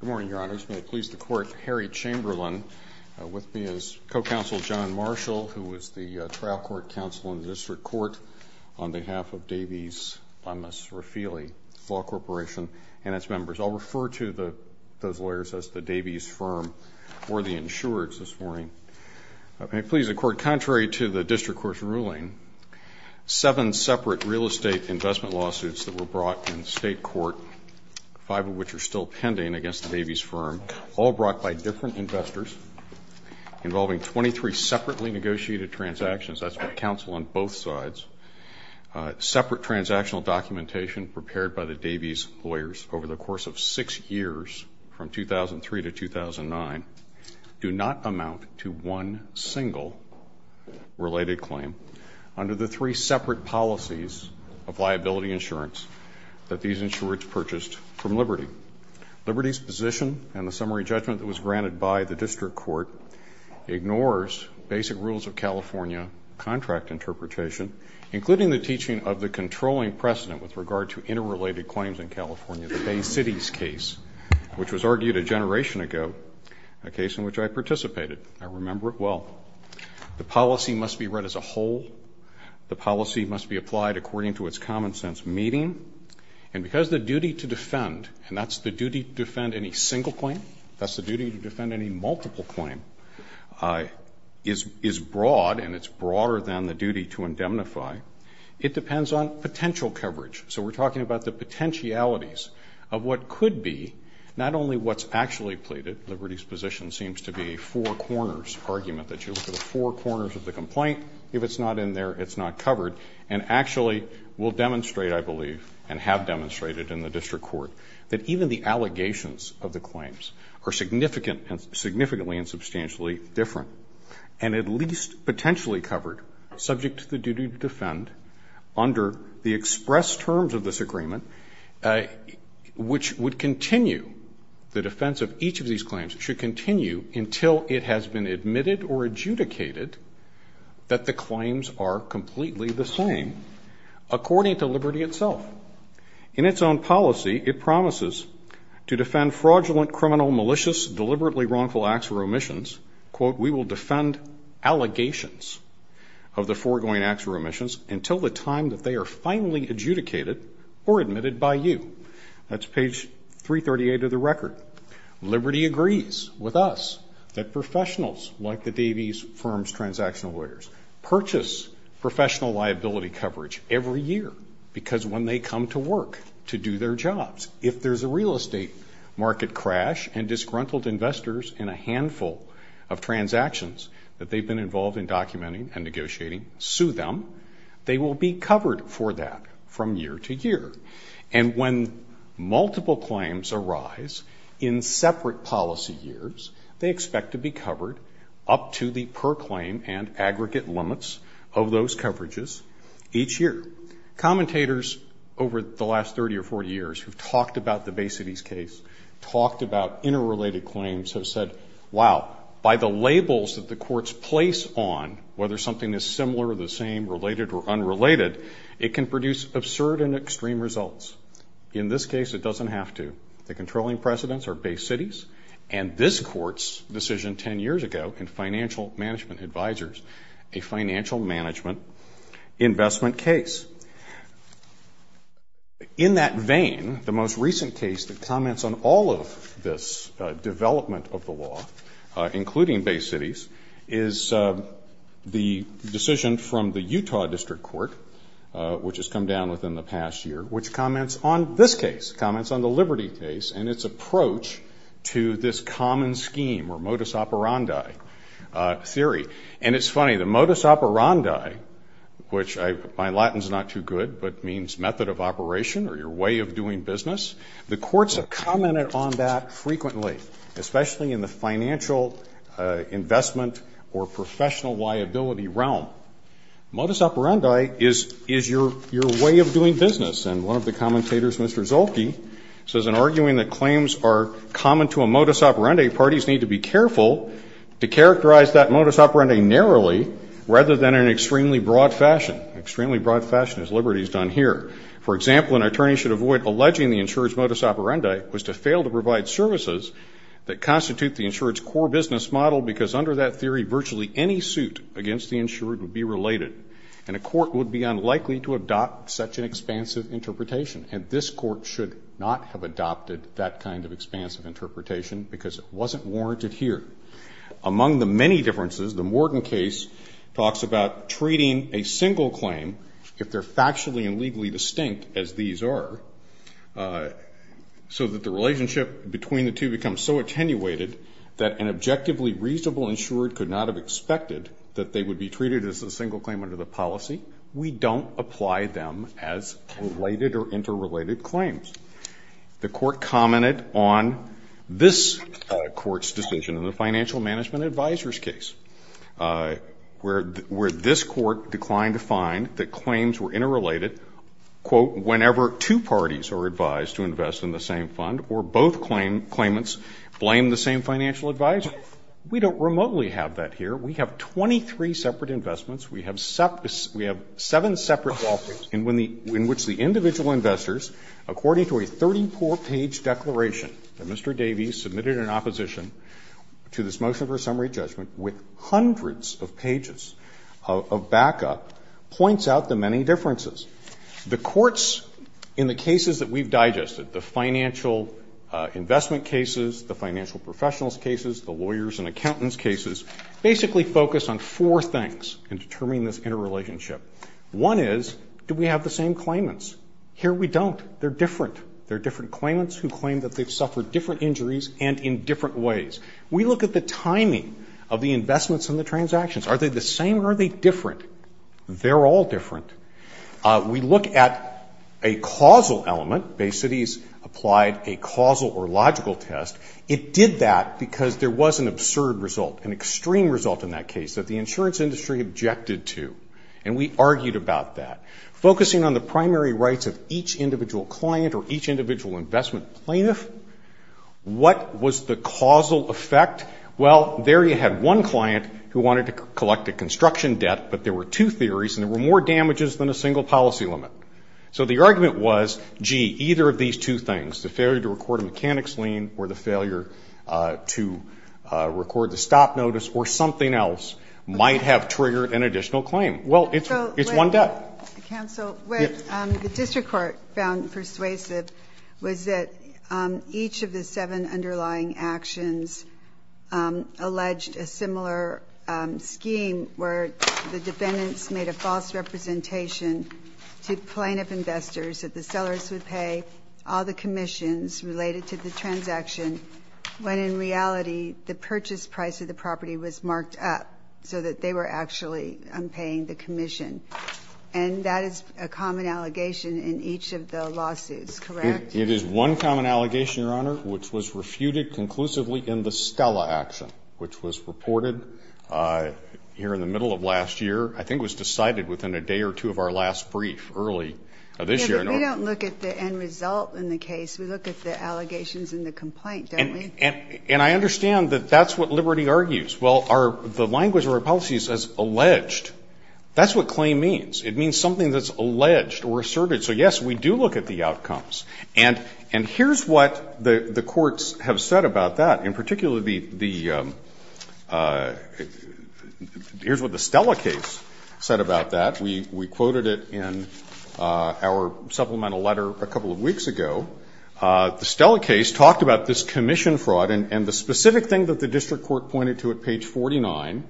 Good morning, Your Honors. May it please the Court, Harry Chamberlain. With me is co-counsel John Marshall, who is the trial court counsel in the District Court on behalf of Davies Lemmis Raphaely Law Corporation and its members. I'll refer to the those lawyers as the Davies firm or the insurers this morning. May it please the Court, contrary to the District Court's ruling, seven separate real estate investment lawsuits that were brought in state court, five of which are still pending against the Davies firm, all brought by different investors involving 23 separately negotiated transactions. That's my counsel on both sides. Separate transactional documentation prepared by the Davies lawyers over the course of six years, from 2003 to 2009, do not reflect the different policies of liability insurance that these insurers purchased from Liberty. Liberty's position and the summary judgment that was granted by the District Court ignores basic rules of California contract interpretation, including the teaching of the controlling precedent with regard to interrelated claims in California, the Bay Cities case, which was argued a generation ago, a case in which I participated. I remember it well. The policy must be read as a whole. The policy must be applied according to its common sense meeting. And because the duty to defend, and that's the duty to defend any single claim, that's the duty to defend any multiple claim, is broad, and it's broader than the duty to indemnify, it depends on potential coverage. So we're talking about the potentialities of what could be not only what's actually pleaded, Liberty's position seems to be a four corners argument, that you look at the four corners of the complaint, if it's not in there, it's not covered, and actually will demonstrate, I believe, and have demonstrated in the District Court, that even the allegations of the claims are significant, significantly and substantially different, and at least potentially covered, subject to the duty to defend, under the express terms of this agreement, which would continue, the defense of each of these claims should continue until it has been admitted or adjudicated that the claims are completely the same, according to Liberty itself. In its own policy, it promises to defend fraudulent, criminal, malicious, deliberately wrongful acts or omissions, quote, we will defend allegations of the foregoing acts or omissions until the time that they are finally adjudicated or admitted by you. That's page 338 of the record. Liberty agrees with us that professionals, like the Davies Firm's transactional lawyers, purchase professional liability coverage every year, because when they come to work to do their jobs, if there's a real estate market crash and disgruntled investors in a handful of transactions that they've been involved in documenting and negotiating, sue them, they will be covered for that from year to year. And when multiple claims arise in separate policy years, they expect to be covered up to the per claim and aggregate limits of those coverages each year. Commentators over the last 30 or 40 years who've talked about the Basity's case, talked about interrelated claims, have said, wow, by the labels that the courts place on whether something is similar or the same, related or unrelated, it can produce absurd and extreme results. In this case, it doesn't have to. The controlling precedents are Bay Cities, and this court's decision 10 years ago in financial management advisors, a financial management investment case. In that vein, the most recent case that comments on all of this development of Bay Cities is the decision from the Utah District Court, which has come down within the past year, which comments on this case, comments on the Liberty case and its approach to this common scheme or modus operandi theory. And it's funny, the modus operandi, which I find Latin's not too good, but means method of operation or your way of doing business, the courts have commented on that investment or professional liability realm. Modus operandi is your way of doing business. And one of the commentators, Mr. Zolke, says in arguing that claims are common to a modus operandi, parties need to be careful to characterize that modus operandi narrowly, rather than in an extremely broad fashion, extremely broad fashion as Liberty's done here. For example, an attorney should avoid alleging the insurer's modus operandi was to fail to provide services that under that theory, virtually any suit against the insurer would be related and a court would be unlikely to adopt such an expansive interpretation. And this court should not have adopted that kind of expansive interpretation because it wasn't warranted here. Among the many differences, the Morgan case talks about treating a single claim, if they're factually and legally distinct as these are, so that the relationship between the two becomes so attenuated that an objectively reasonable insurer could not have expected that they would be treated as a single claim under the policy, we don't apply them as related or interrelated claims. The court commented on this court's decision in the financial management advisor's case, where this court declined to find that claims were interrelated, quote, whenever two parties are advised to invest in the same fund, or both claimants blame the same financial advisor. We don't remotely have that here. We have 23 separate investments. We have seven separate ballparks in which the individual investors, according to a 34-page declaration that Mr. Davies submitted in opposition to this motion for a summary judgment with hundreds of pages of backup, points out the many differences. The courts, in the cases that we've digested, the financial investment cases, the financial professionals' cases, the lawyers' and accountants' cases, basically focus on four things in determining this interrelationship. One is, do we have the same claimants? Here we don't. They're different. They're different claimants who claim that they've suffered different injuries and in different ways. We look at the timing of the investments and the transactions. Are they the same or are they different? They're all different. We look at a causal element. Bay Cities applied a causal or logical test. It did that because there was an absurd result, an extreme result in that case that the insurance industry objected to. And we argued about that. Focusing on the primary rights of each individual client or each individual investment plaintiff, what was the causal effect? Well, there you had one client who wanted to collect a construction debt, but there were two theories and there were more damages than a single policy limit. So the argument was, gee, either of these two things, the failure to record a mechanics lien or the failure to record the stop notice or something else might have triggered an additional claim. Well, it's one debt. So, counsel, what the district court found persuasive was that each of the seven underlying actions alleged a similar scheme where the defendants made a false representation to plaintiff investors that the sellers would pay all the commissions related to the transaction, when in reality the purchase price of the property was marked up so that they were actually paying the commission. And that is a common allegation in each of the lawsuits, correct? It is one common allegation, Your Honor, which was refuted conclusively in the Stella action, which was reported here in the middle of last year. I think it was decided within a day or two of our last brief early this year. We don't look at the end result in the case. We look at the allegations in the complaint, don't we? And I understand that that's what Liberty argues. Well, the language of our policy says alleged. That's what claim means. It means something that's alleged or asserted. So, yes, we do look at the outcomes. And here's what the courts have said about that. In particular, the — here's what the Stella case said about that. We quoted it in our supplemental letter a couple of weeks ago. The Stella case talked about this commission fraud, and the specific thing that the district court pointed to at page 49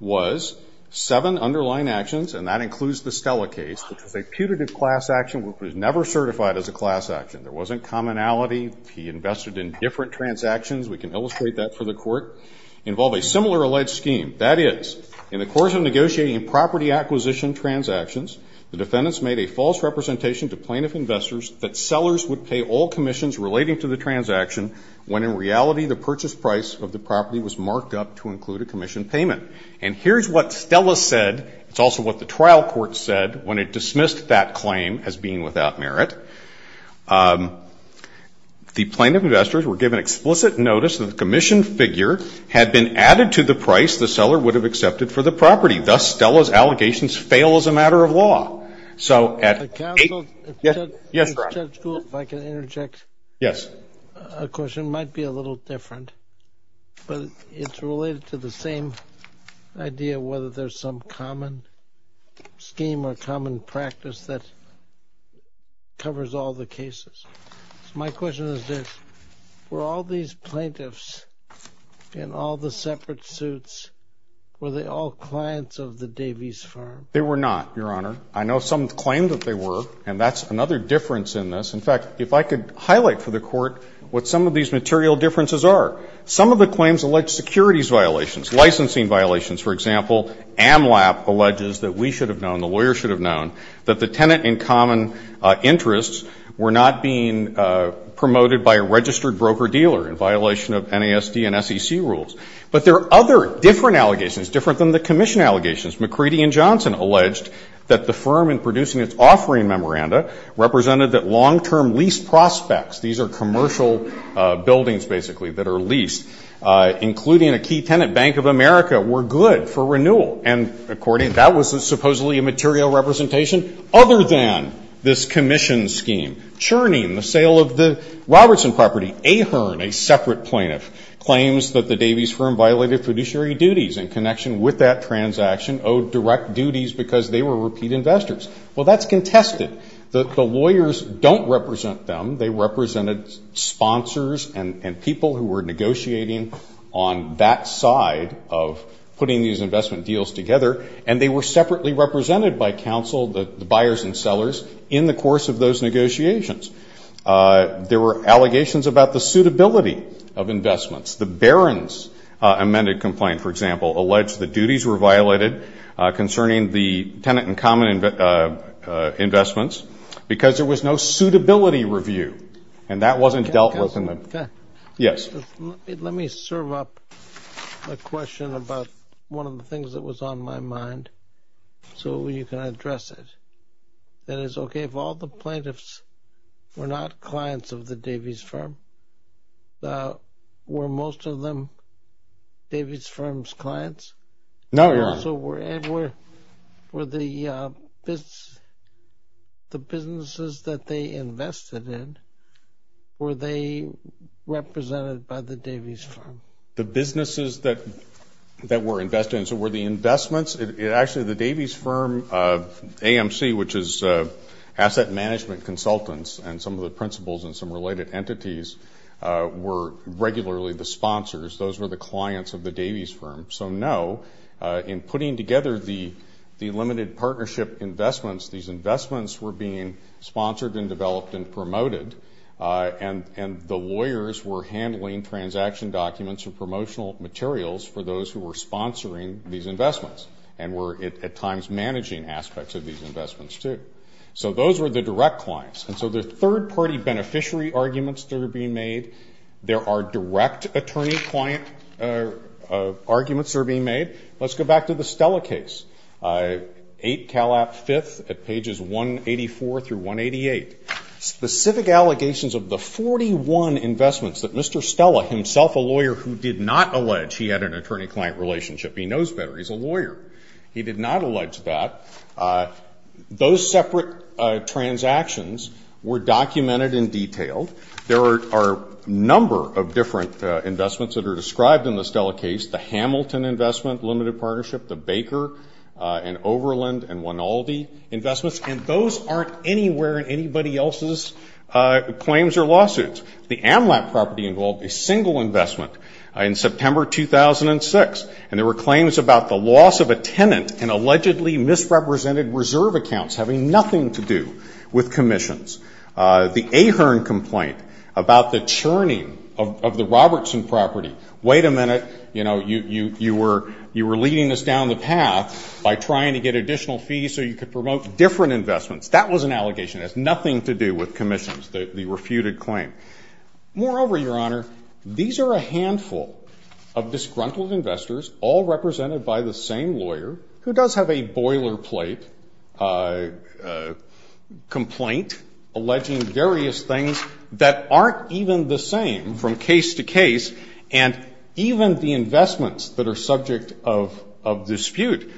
was seven underlying actions, and that includes the Stella case, which was never certified as a class action. There wasn't commonality. He invested in different transactions. We can illustrate that for the court. Involve a similar alleged scheme. That is, in the course of negotiating property acquisition transactions, the defendants made a false representation to plaintiff investors that sellers would pay all commissions relating to the transaction when, in reality, the purchase price of the property was marked up to include a commission payment. And here's what Stella said. It's also what the trial court said when it dismissed that claim as being without merit. The plaintiff investors were given explicit notice that the commissioned figure had been added to the price the seller would have accepted for the property. Thus, Stella's allegations fail as a matter of law. So at — The counsel — Yes, Ron. Judge Gould, if I can interject a question. It might be a little different, but it's related to the same idea whether there's some common scheme or common practice that covers all the cases. So my question is this. Were all these plaintiffs in all the separate suits, were they all clients of the Davies Farm? They were not, Your Honor. I know some claimed that they were, and that's another difference in this. In fact, if I could highlight for the court what some of these are, they're securities violations, licensing violations. For example, AMLAP alleges that we should have known, the lawyer should have known, that the tenant in common interests were not being promoted by a registered broker-dealer in violation of NASD and SEC rules. But there are other different allegations, different than the commission allegations. McCready and Johnson alleged that the firm in producing its offering memoranda represented that long-term lease prospects — these are commercial buildings, basically, that are leased — including a key tenant, Bank of America, were good for renewal. And according — that was supposedly a material representation other than this commission scheme. Cherning, the sale of the Robertson property. Ahern, a separate plaintiff, claims that the Davies Firm violated fiduciary duties in connection with that transaction owed direct duties because they were repeat investors. Well, that's contested. The lawyers don't represent them. They represented sponsors and people who were negotiating on that side of putting these investment deals together. And they were separately represented by counsel, the buyers and sellers, in the course of those negotiations. There were allegations about the suitability of investments. The Barron's amended complaint, for example, alleged that duties were violated concerning the tenant and common investments because there was no suitability review. And that wasn't dealt with in the — Yes. Let me serve up a question about one of the things that was on my mind so you can address it. That is, OK, if all the plaintiffs were not clients of the Davies Firm, were most of them Davies Firm's clients? No, Your Honor. So, Ed, were the businesses that they invested in, were they represented by the Davies Firm? The businesses that were invested in, so were the investments — actually, the Davies Firm AMC, which is Asset Management Consultants and some of the principals and some related entities, were regularly the sponsors. Those were the — putting together the limited partnership investments, these investments were being sponsored and developed and promoted, and the lawyers were handling transaction documents and promotional materials for those who were sponsoring these investments and were, at times, managing aspects of these investments, too. So those were the direct clients. And so the third-party beneficiary arguments that are being made, there are direct attorney-client arguments that are being made. Let's go back to the Stella case, 8 Calap 5th at pages 184 through 188. Specific allegations of the 41 investments that Mr. Stella, himself a lawyer who did not allege he had an attorney-client relationship — he knows better, he's a lawyer — he did not allege that. Those separate transactions were documented and detailed. There are a number of different investments that are described in the Stella case, the Hamilton investment, limited partnership, the Baker and Overland and Wynaldi investments, and those aren't anywhere in anybody else's claims or lawsuits. The AMLAP property involved a single investment in September 2006, and there were claims about the loss of a tenant in allegedly misrepresented reserve accounts having nothing to do with commissions. The Ahern complaint about the churning of the Robertson property. Wait a minute, you know, you were leading us down the path by trying to get additional fees so you could promote different investments. That was an allegation. It has nothing to do with commissions, the refuted claim. Moreover, Your Honor, these are a handful of disgruntled investors all represented by the same lawyer who does have a boiler plate complaint alleging various things that aren't even the same from case to case, and even the investments that are subject of dispute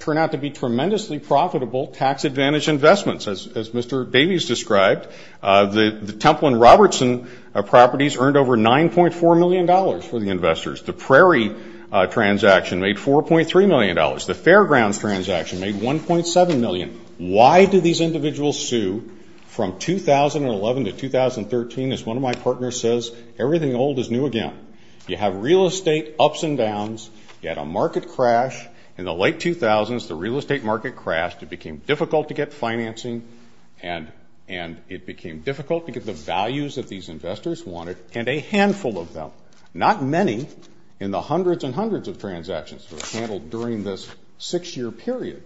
turn out to be tremendously profitable tax-advantaged investments. As Mr. Davies described, the Templin-Robertson properties earned over $9.4 million for the investors. The Prairie transaction made $4.3 million. The Fairgrounds transaction made $1.7 million. Why do these individuals sue from 2011 to 2013? As one of my partners says, everything old is new again. You have real estate ups and downs. You had a market crash in the late 2000s. The real estate market crashed. It became difficult to get financing, and it became difficult to get the values that these investors wanted, and a handful of them, not many, in the hundreds and hundreds of transactions that were handled during this six-year period,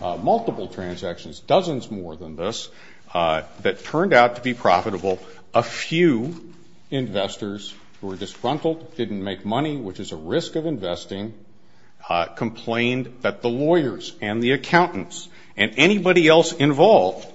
multiple transactions, dozens more than this, that turned out to be profitable. A few investors who were disgruntled, didn't make money, which is a risk of investing, complained that the lawyers and the accountants and anybody else involved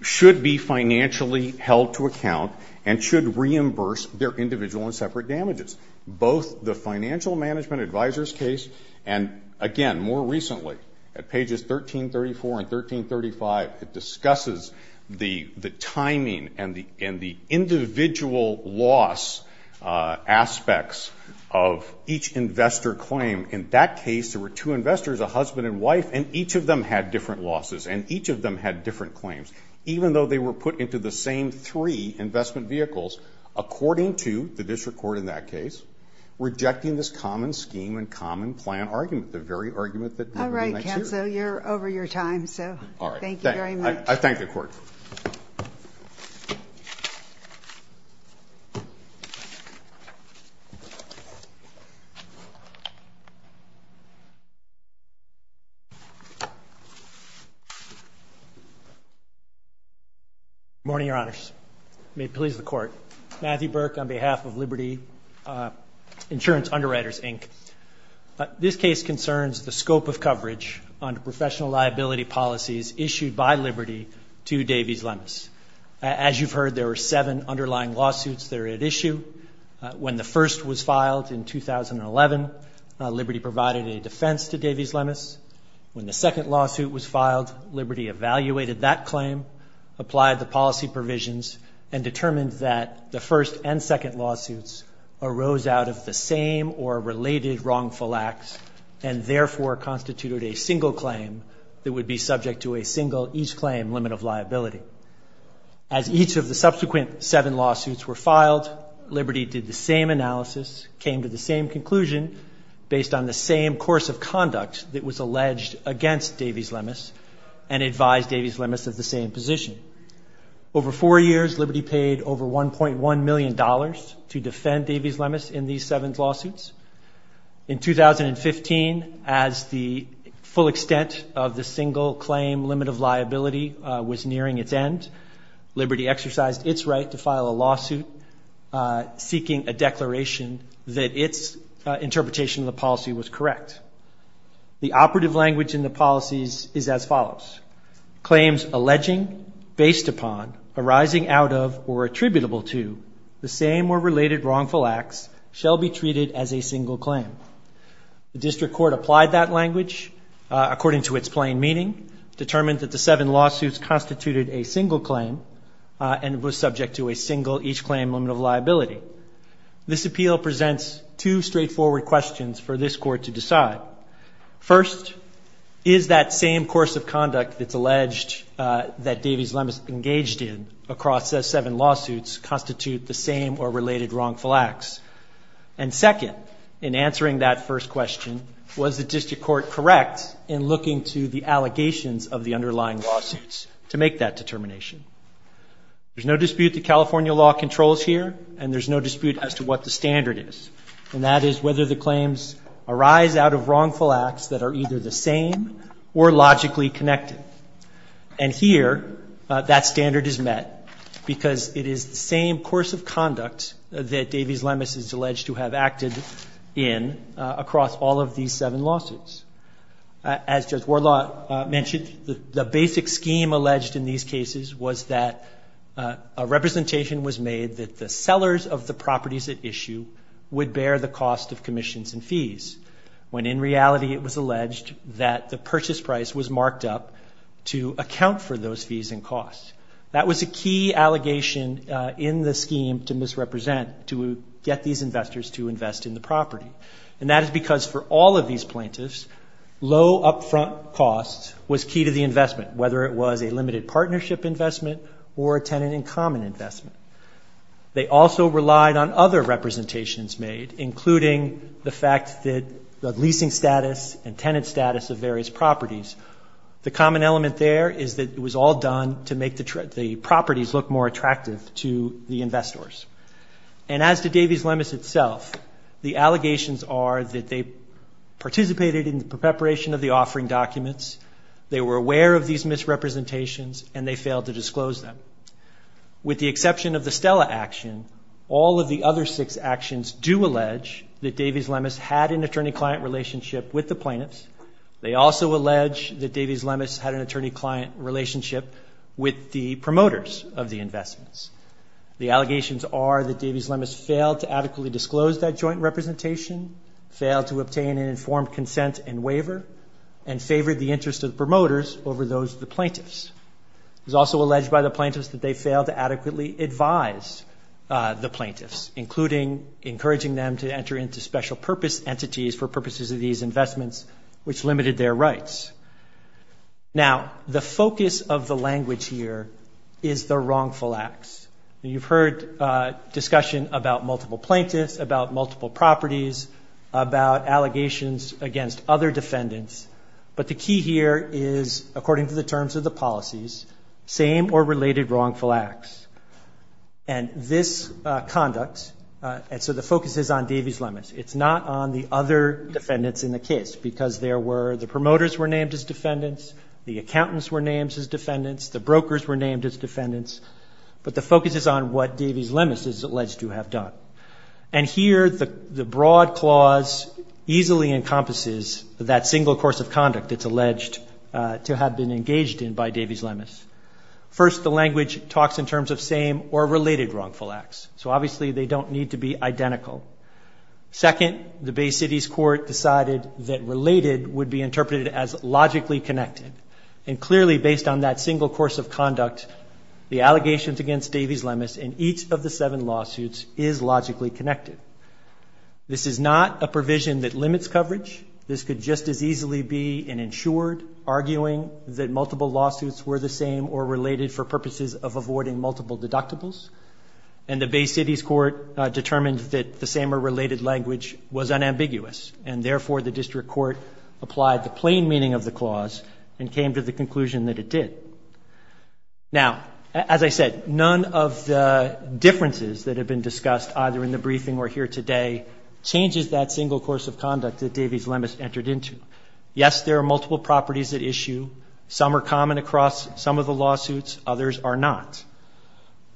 should be financially held to account and should reimburse their individual and separate damages. Both the Financial Management Advisors case and, again, more recently, at pages 1334 and 1335, it discusses the timing and the individual loss aspects of each investor claim. In that case, there were two investors, a husband and wife, and each of them had different losses, and each of them had different claims, even though they were put into the same three investment vehicles, according to the common scheme and common plan argument, the very argument that we're going to hear. All right, counsel, you're over your time, so thank you very much. I thank the Court. Good morning, Your Honors. May it please the Court. Matthew Burke, on behalf of Liberty Insurance Underwriters, Inc., this case concerns the scope of coverage under professional liability policies issued by Liberty to Davies-Lemes. As you've heard, there were seven underlying lawsuits there at issue. When the first was filed in 2011, Liberty provided a defense to Davies-Lemes. When the second lawsuit was filed, Liberty evaluated that claim, applied the policy provisions, and arose out of the same or related wrongful acts, and therefore constituted a single claim that would be subject to a single-each-claim limit of liability. As each of the subsequent seven lawsuits were filed, Liberty did the same analysis, came to the same conclusion, based on the same course of conduct that was alleged against Davies-Lemes, and advised Davies-Lemes of the same position. Over years, Liberty paid over $1.1 million to defend Davies-Lemes in these seven lawsuits. In 2015, as the full extent of the single-claim limit of liability was nearing its end, Liberty exercised its right to file a lawsuit seeking a declaration that its interpretation of the policy was correct. The operative language in the policies is as follows. Claims alleging, based upon, arising out of, or attributable to, the same or related wrongful acts shall be treated as a single claim. The district court applied that language according to its plain meaning, determined that the seven lawsuits constituted a single claim, and was subject to a single-each-claim limit of liability. This appeal presents two questions. First, is that same course of conduct that's alleged that Davies-Lemes engaged in across those seven lawsuits constitute the same or related wrongful acts? And second, in answering that first question, was the district court correct in looking to the allegations of the underlying lawsuits to make that determination? There's no dispute that California law controls here, and there's no dispute as to what the standard is, and that is whether the claims are the same or logically connected. And here, that standard is met, because it is the same course of conduct that Davies-Lemes is alleged to have acted in across all of these seven lawsuits. As Judge Warlaw mentioned, the basic scheme alleged in these cases was that a representation was made that the sellers of the properties at issue would bear the cost of commissions and fees, when in reality it was alleged that the purchase price was marked up to account for those fees and costs. That was a key allegation in the scheme to misrepresent, to get these investors to invest in the property. And that is because for all of these plaintiffs, low upfront costs was key to the investment, whether it was a limited partnership investment or a tenant-in-common investment. They also listed the leasing status and tenant status of various properties. The common element there is that it was all done to make the properties look more attractive to the investors. And as to Davies-Lemes itself, the allegations are that they participated in the preparation of the offering documents, they were aware of these misrepresentations, and they failed to disclose them. With the exception of the Stella action, all of the other six actions do allege that Davies-Lemes had an attorney-client relationship with the plaintiffs. They also allege that Davies-Lemes had an attorney-client relationship with the promoters of the investments. The allegations are that Davies-Lemes failed to adequately disclose that joint representation, failed to obtain an informed consent and waiver, and favored the interest of the promoters over those of the plaintiffs. It was also alleged by the plaintiffs that they failed to adequately advise the plaintiffs, including encouraging them to enter into special purpose entities for purposes of these investments, which limited their rights. Now, the focus of the language here is the wrongful acts. You've heard discussion about multiple plaintiffs, about multiple properties, about allegations against other defendants, but the key here is, according to the terms of the policies, same or related wrongful acts. And this conduct, and so the focus is on Davies-Lemes. It's not on the other defendants in the case, because there were, the promoters were named as defendants, the accountants were named as defendants, the brokers were named as defendants, but the focus is on what Davies-Lemes is alleged to have done. And here, the broad clause easily encompasses that single course of conduct that's alleged to have been engaged in by Davies-Lemes. First, the language talks in terms of same or related wrongful acts, so obviously they don't need to be identical. Second, the Bay City's court decided that related would be interpreted as logically connected. And clearly, based on that single course of conduct, the allegations against Davies-Lemes in each of the seven lawsuits is logically connected. This is not a provision that limits coverage. This could just as easily be an insured arguing that multiple lawsuits were the same or related for purposes of avoiding multiple deductibles, and the Bay City's court determined that the same or related language was unambiguous, and therefore the district court applied the plain meaning of the clause and came to the conclusion that it did. Now, as I said, none of the differences that have been discussed, either in the briefing or here today, changes that single course of conduct that Davies-Lemes entered into. Yes, there are multiple properties at some of the lawsuits. Others are not.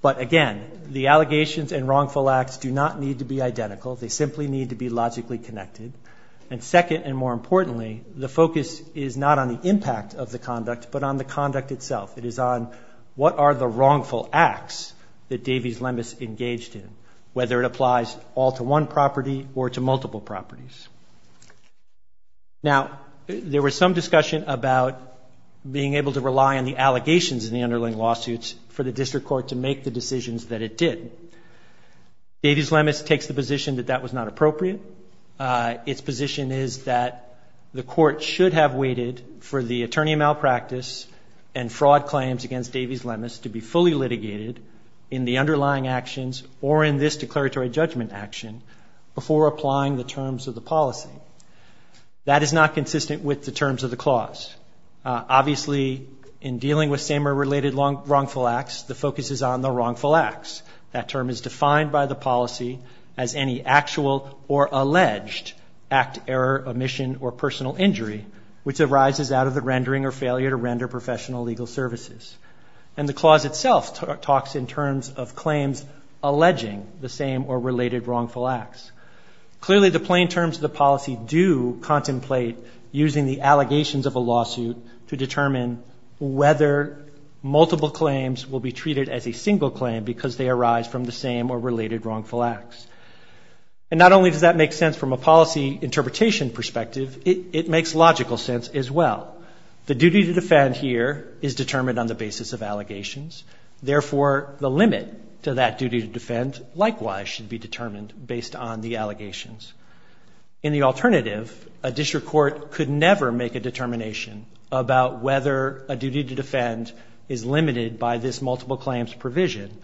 But again, the allegations and wrongful acts do not need to be identical. They simply need to be logically connected. And second, and more importantly, the focus is not on the impact of the conduct, but on the conduct itself. It is on what are the wrongful acts that Davies-Lemes engaged in, whether it applies all to one property or to multiple properties. Now, there was some discussion about being able to rely on the allegations in the underlying lawsuits for the district court to make the decisions that it did. Davies-Lemes takes the position that that was not appropriate. Its position is that the court should have waited for the attorney malpractice and fraud claims against Davies-Lemes to be fully litigated in the underlying actions or in this declaratory judgment action before applying the terms of the policy. That is not consistent with the terms of the clause. Obviously, in dealing with same or related wrongful acts, the focus is on the wrongful acts. That term is defined by the policy as any actual or alleged act, error, omission, or personal injury which arises out of the rendering or failure to render professional legal services. And the clause itself talks in terms of claims alleging the same or related wrongful acts. Clearly, the plain terms of the policy do contemplate using the allegations of a lawsuit to determine whether multiple claims will be treated as a single claim because they arise from the same or related wrongful acts. And not only does that make sense from a policy interpretation perspective, it makes logical sense as well. The duty to defend here is determined on the basis of allegations. Therefore, the limit to that duty to defend likewise should be determined based on the allegations. In the alternative, a district court could never make a determination about whether a duty to defend is limited by this multiple claims provision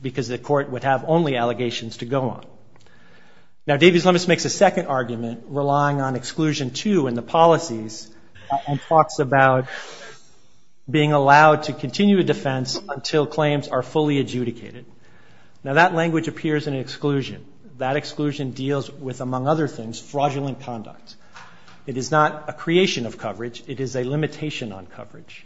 because the court would have only allegations to go on. Now, Davies-Lemes makes a second argument relying on exclusion, too, in the policies and talks about being allowed to continue a defense until claims are fully adjudicated. Now, that language appears in exclusion. That exclusion deals with, among other things, fraudulent conduct. It is not a creation of coverage. It is a limitation on coverage.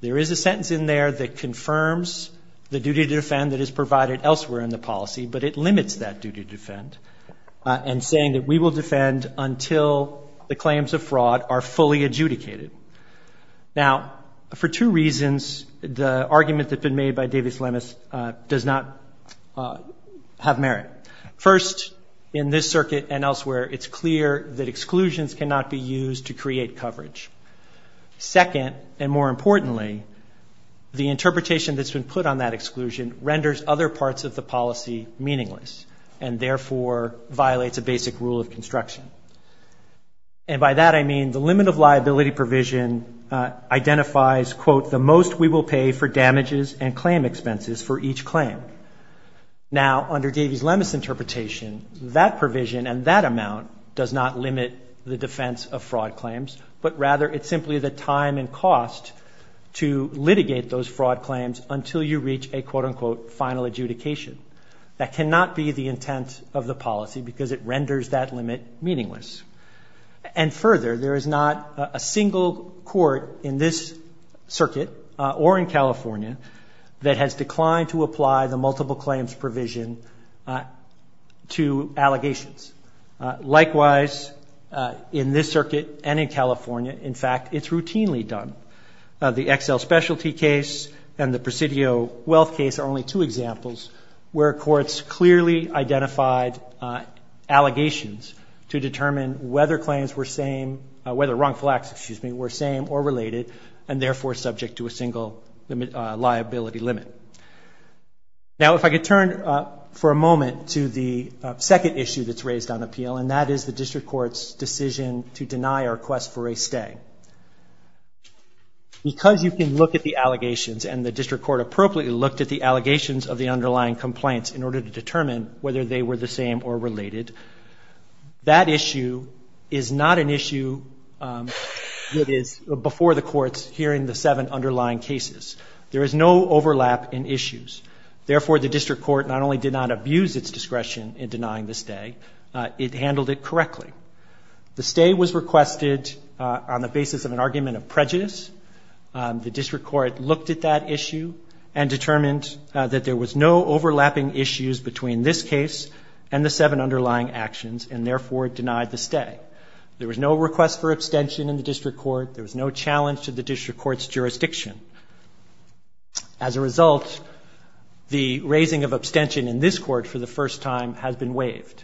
There is a sentence in there that confirms the duty to defend that is provided elsewhere in the policy, but it is not a duty to defend, and saying that we will defend until the claims of fraud are fully adjudicated. Now, for two reasons, the argument that's been made by Davies-Lemes does not have merit. First, in this circuit and elsewhere, it's clear that exclusions cannot be used to create coverage. Second, and more importantly, the interpretation that's been put on that exclusion renders other parts of the policy meaningless and, therefore, violates a basic rule of construction. And by that, I mean the limit of liability provision identifies, quote, the most we will pay for damages and claim expenses for each claim. Now, under Davies-Lemes' interpretation, that provision and that amount does not limit the defense of fraud claims, but rather it's simply the time and cost to litigate those fraud claims until you reach a, quote, unquote, final adjudication. That cannot be the intent of the policy because it renders that limit meaningless. And further, there is not a single court in this circuit or in California that has declined to apply the multiple claims provision to allegations. Likewise, in this circuit and in California, in fact, it's routinely done. The XL Specialty case and the Presidio Wealth case are only two examples where courts clearly identified allegations to determine whether claims were same, whether wrongful acts, excuse me, were same or related and, therefore, subject to a single liability limit. Now, if I could turn for a moment to the second issue that's raised on appeal, and that is the district court's decision to deny our request for a stay. Because you can look at the allegations and the district court appropriately looked at the allegations of the underlying complaints in order to determine whether they were the same or related, that issue is not an issue that is before the courts here in the seven underlying cases. There is no overlap in issues. Therefore, the district court not only did not abuse its discretion in denying the stay, it handled it The stay was requested on the basis of an argument of prejudice. The district court looked at that issue and determined that there was no overlapping issues between this case and the seven underlying actions and, therefore, denied the stay. There was no request for abstention in the district court. There was no challenge to the district court's jurisdiction. As a result, the raising of abstention in this court for the first time has been waived.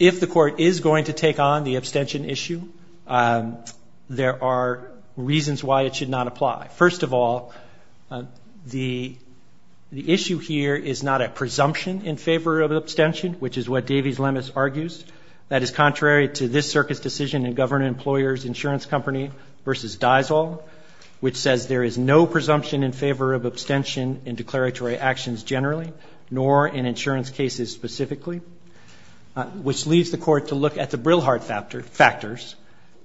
If the court were to take on the abstention issue, there are reasons why it should not apply. First of all, the issue here is not a presumption in favor of abstention, which is what Davies-Lemis argues. That is contrary to this circuit's decision in Governor Employer's Insurance Company v. Dysall, which says there is no presumption in favor of abstention in declaratory actions generally, nor in insurance cases specifically, which leads the court to look at the Brilhart factors,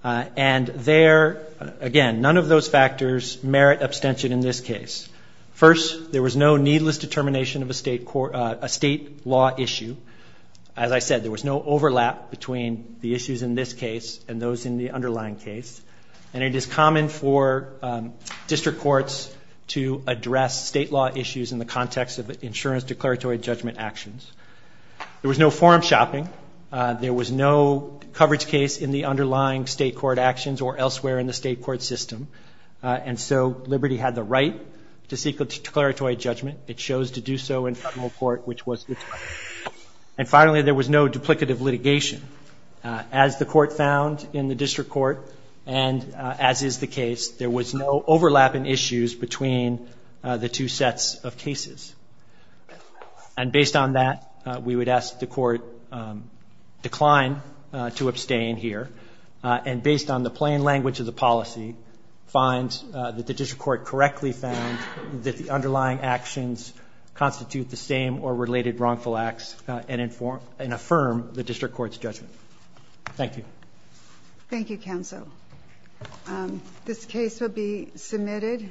and there, again, none of those factors merit abstention in this case. First, there was no needless determination of a state law issue. As I said, there was no overlap between the issues in this case and those in the underlying case, and it is common for district courts to address state law issues in the context of insurance declaratory judgment actions. There was no forum shopping. There was no coverage case in the underlying state court actions or elsewhere in the state court system, and so Liberty had the right to seek a declaratory judgment. It chose to do so in federal court, which was good. And finally, there was no duplicative litigation. As the court found in the district court, and as is the case, there was no overlap in issues between the two sets of cases. And based on that, we would ask the court decline to abstain here, and based on the plain language of the policy, find that the district court correctly found that the underlying actions constitute the same or related wrongful acts and affirm the district court's judgment. Thank you. Thank you, counsel. This case will be submitted.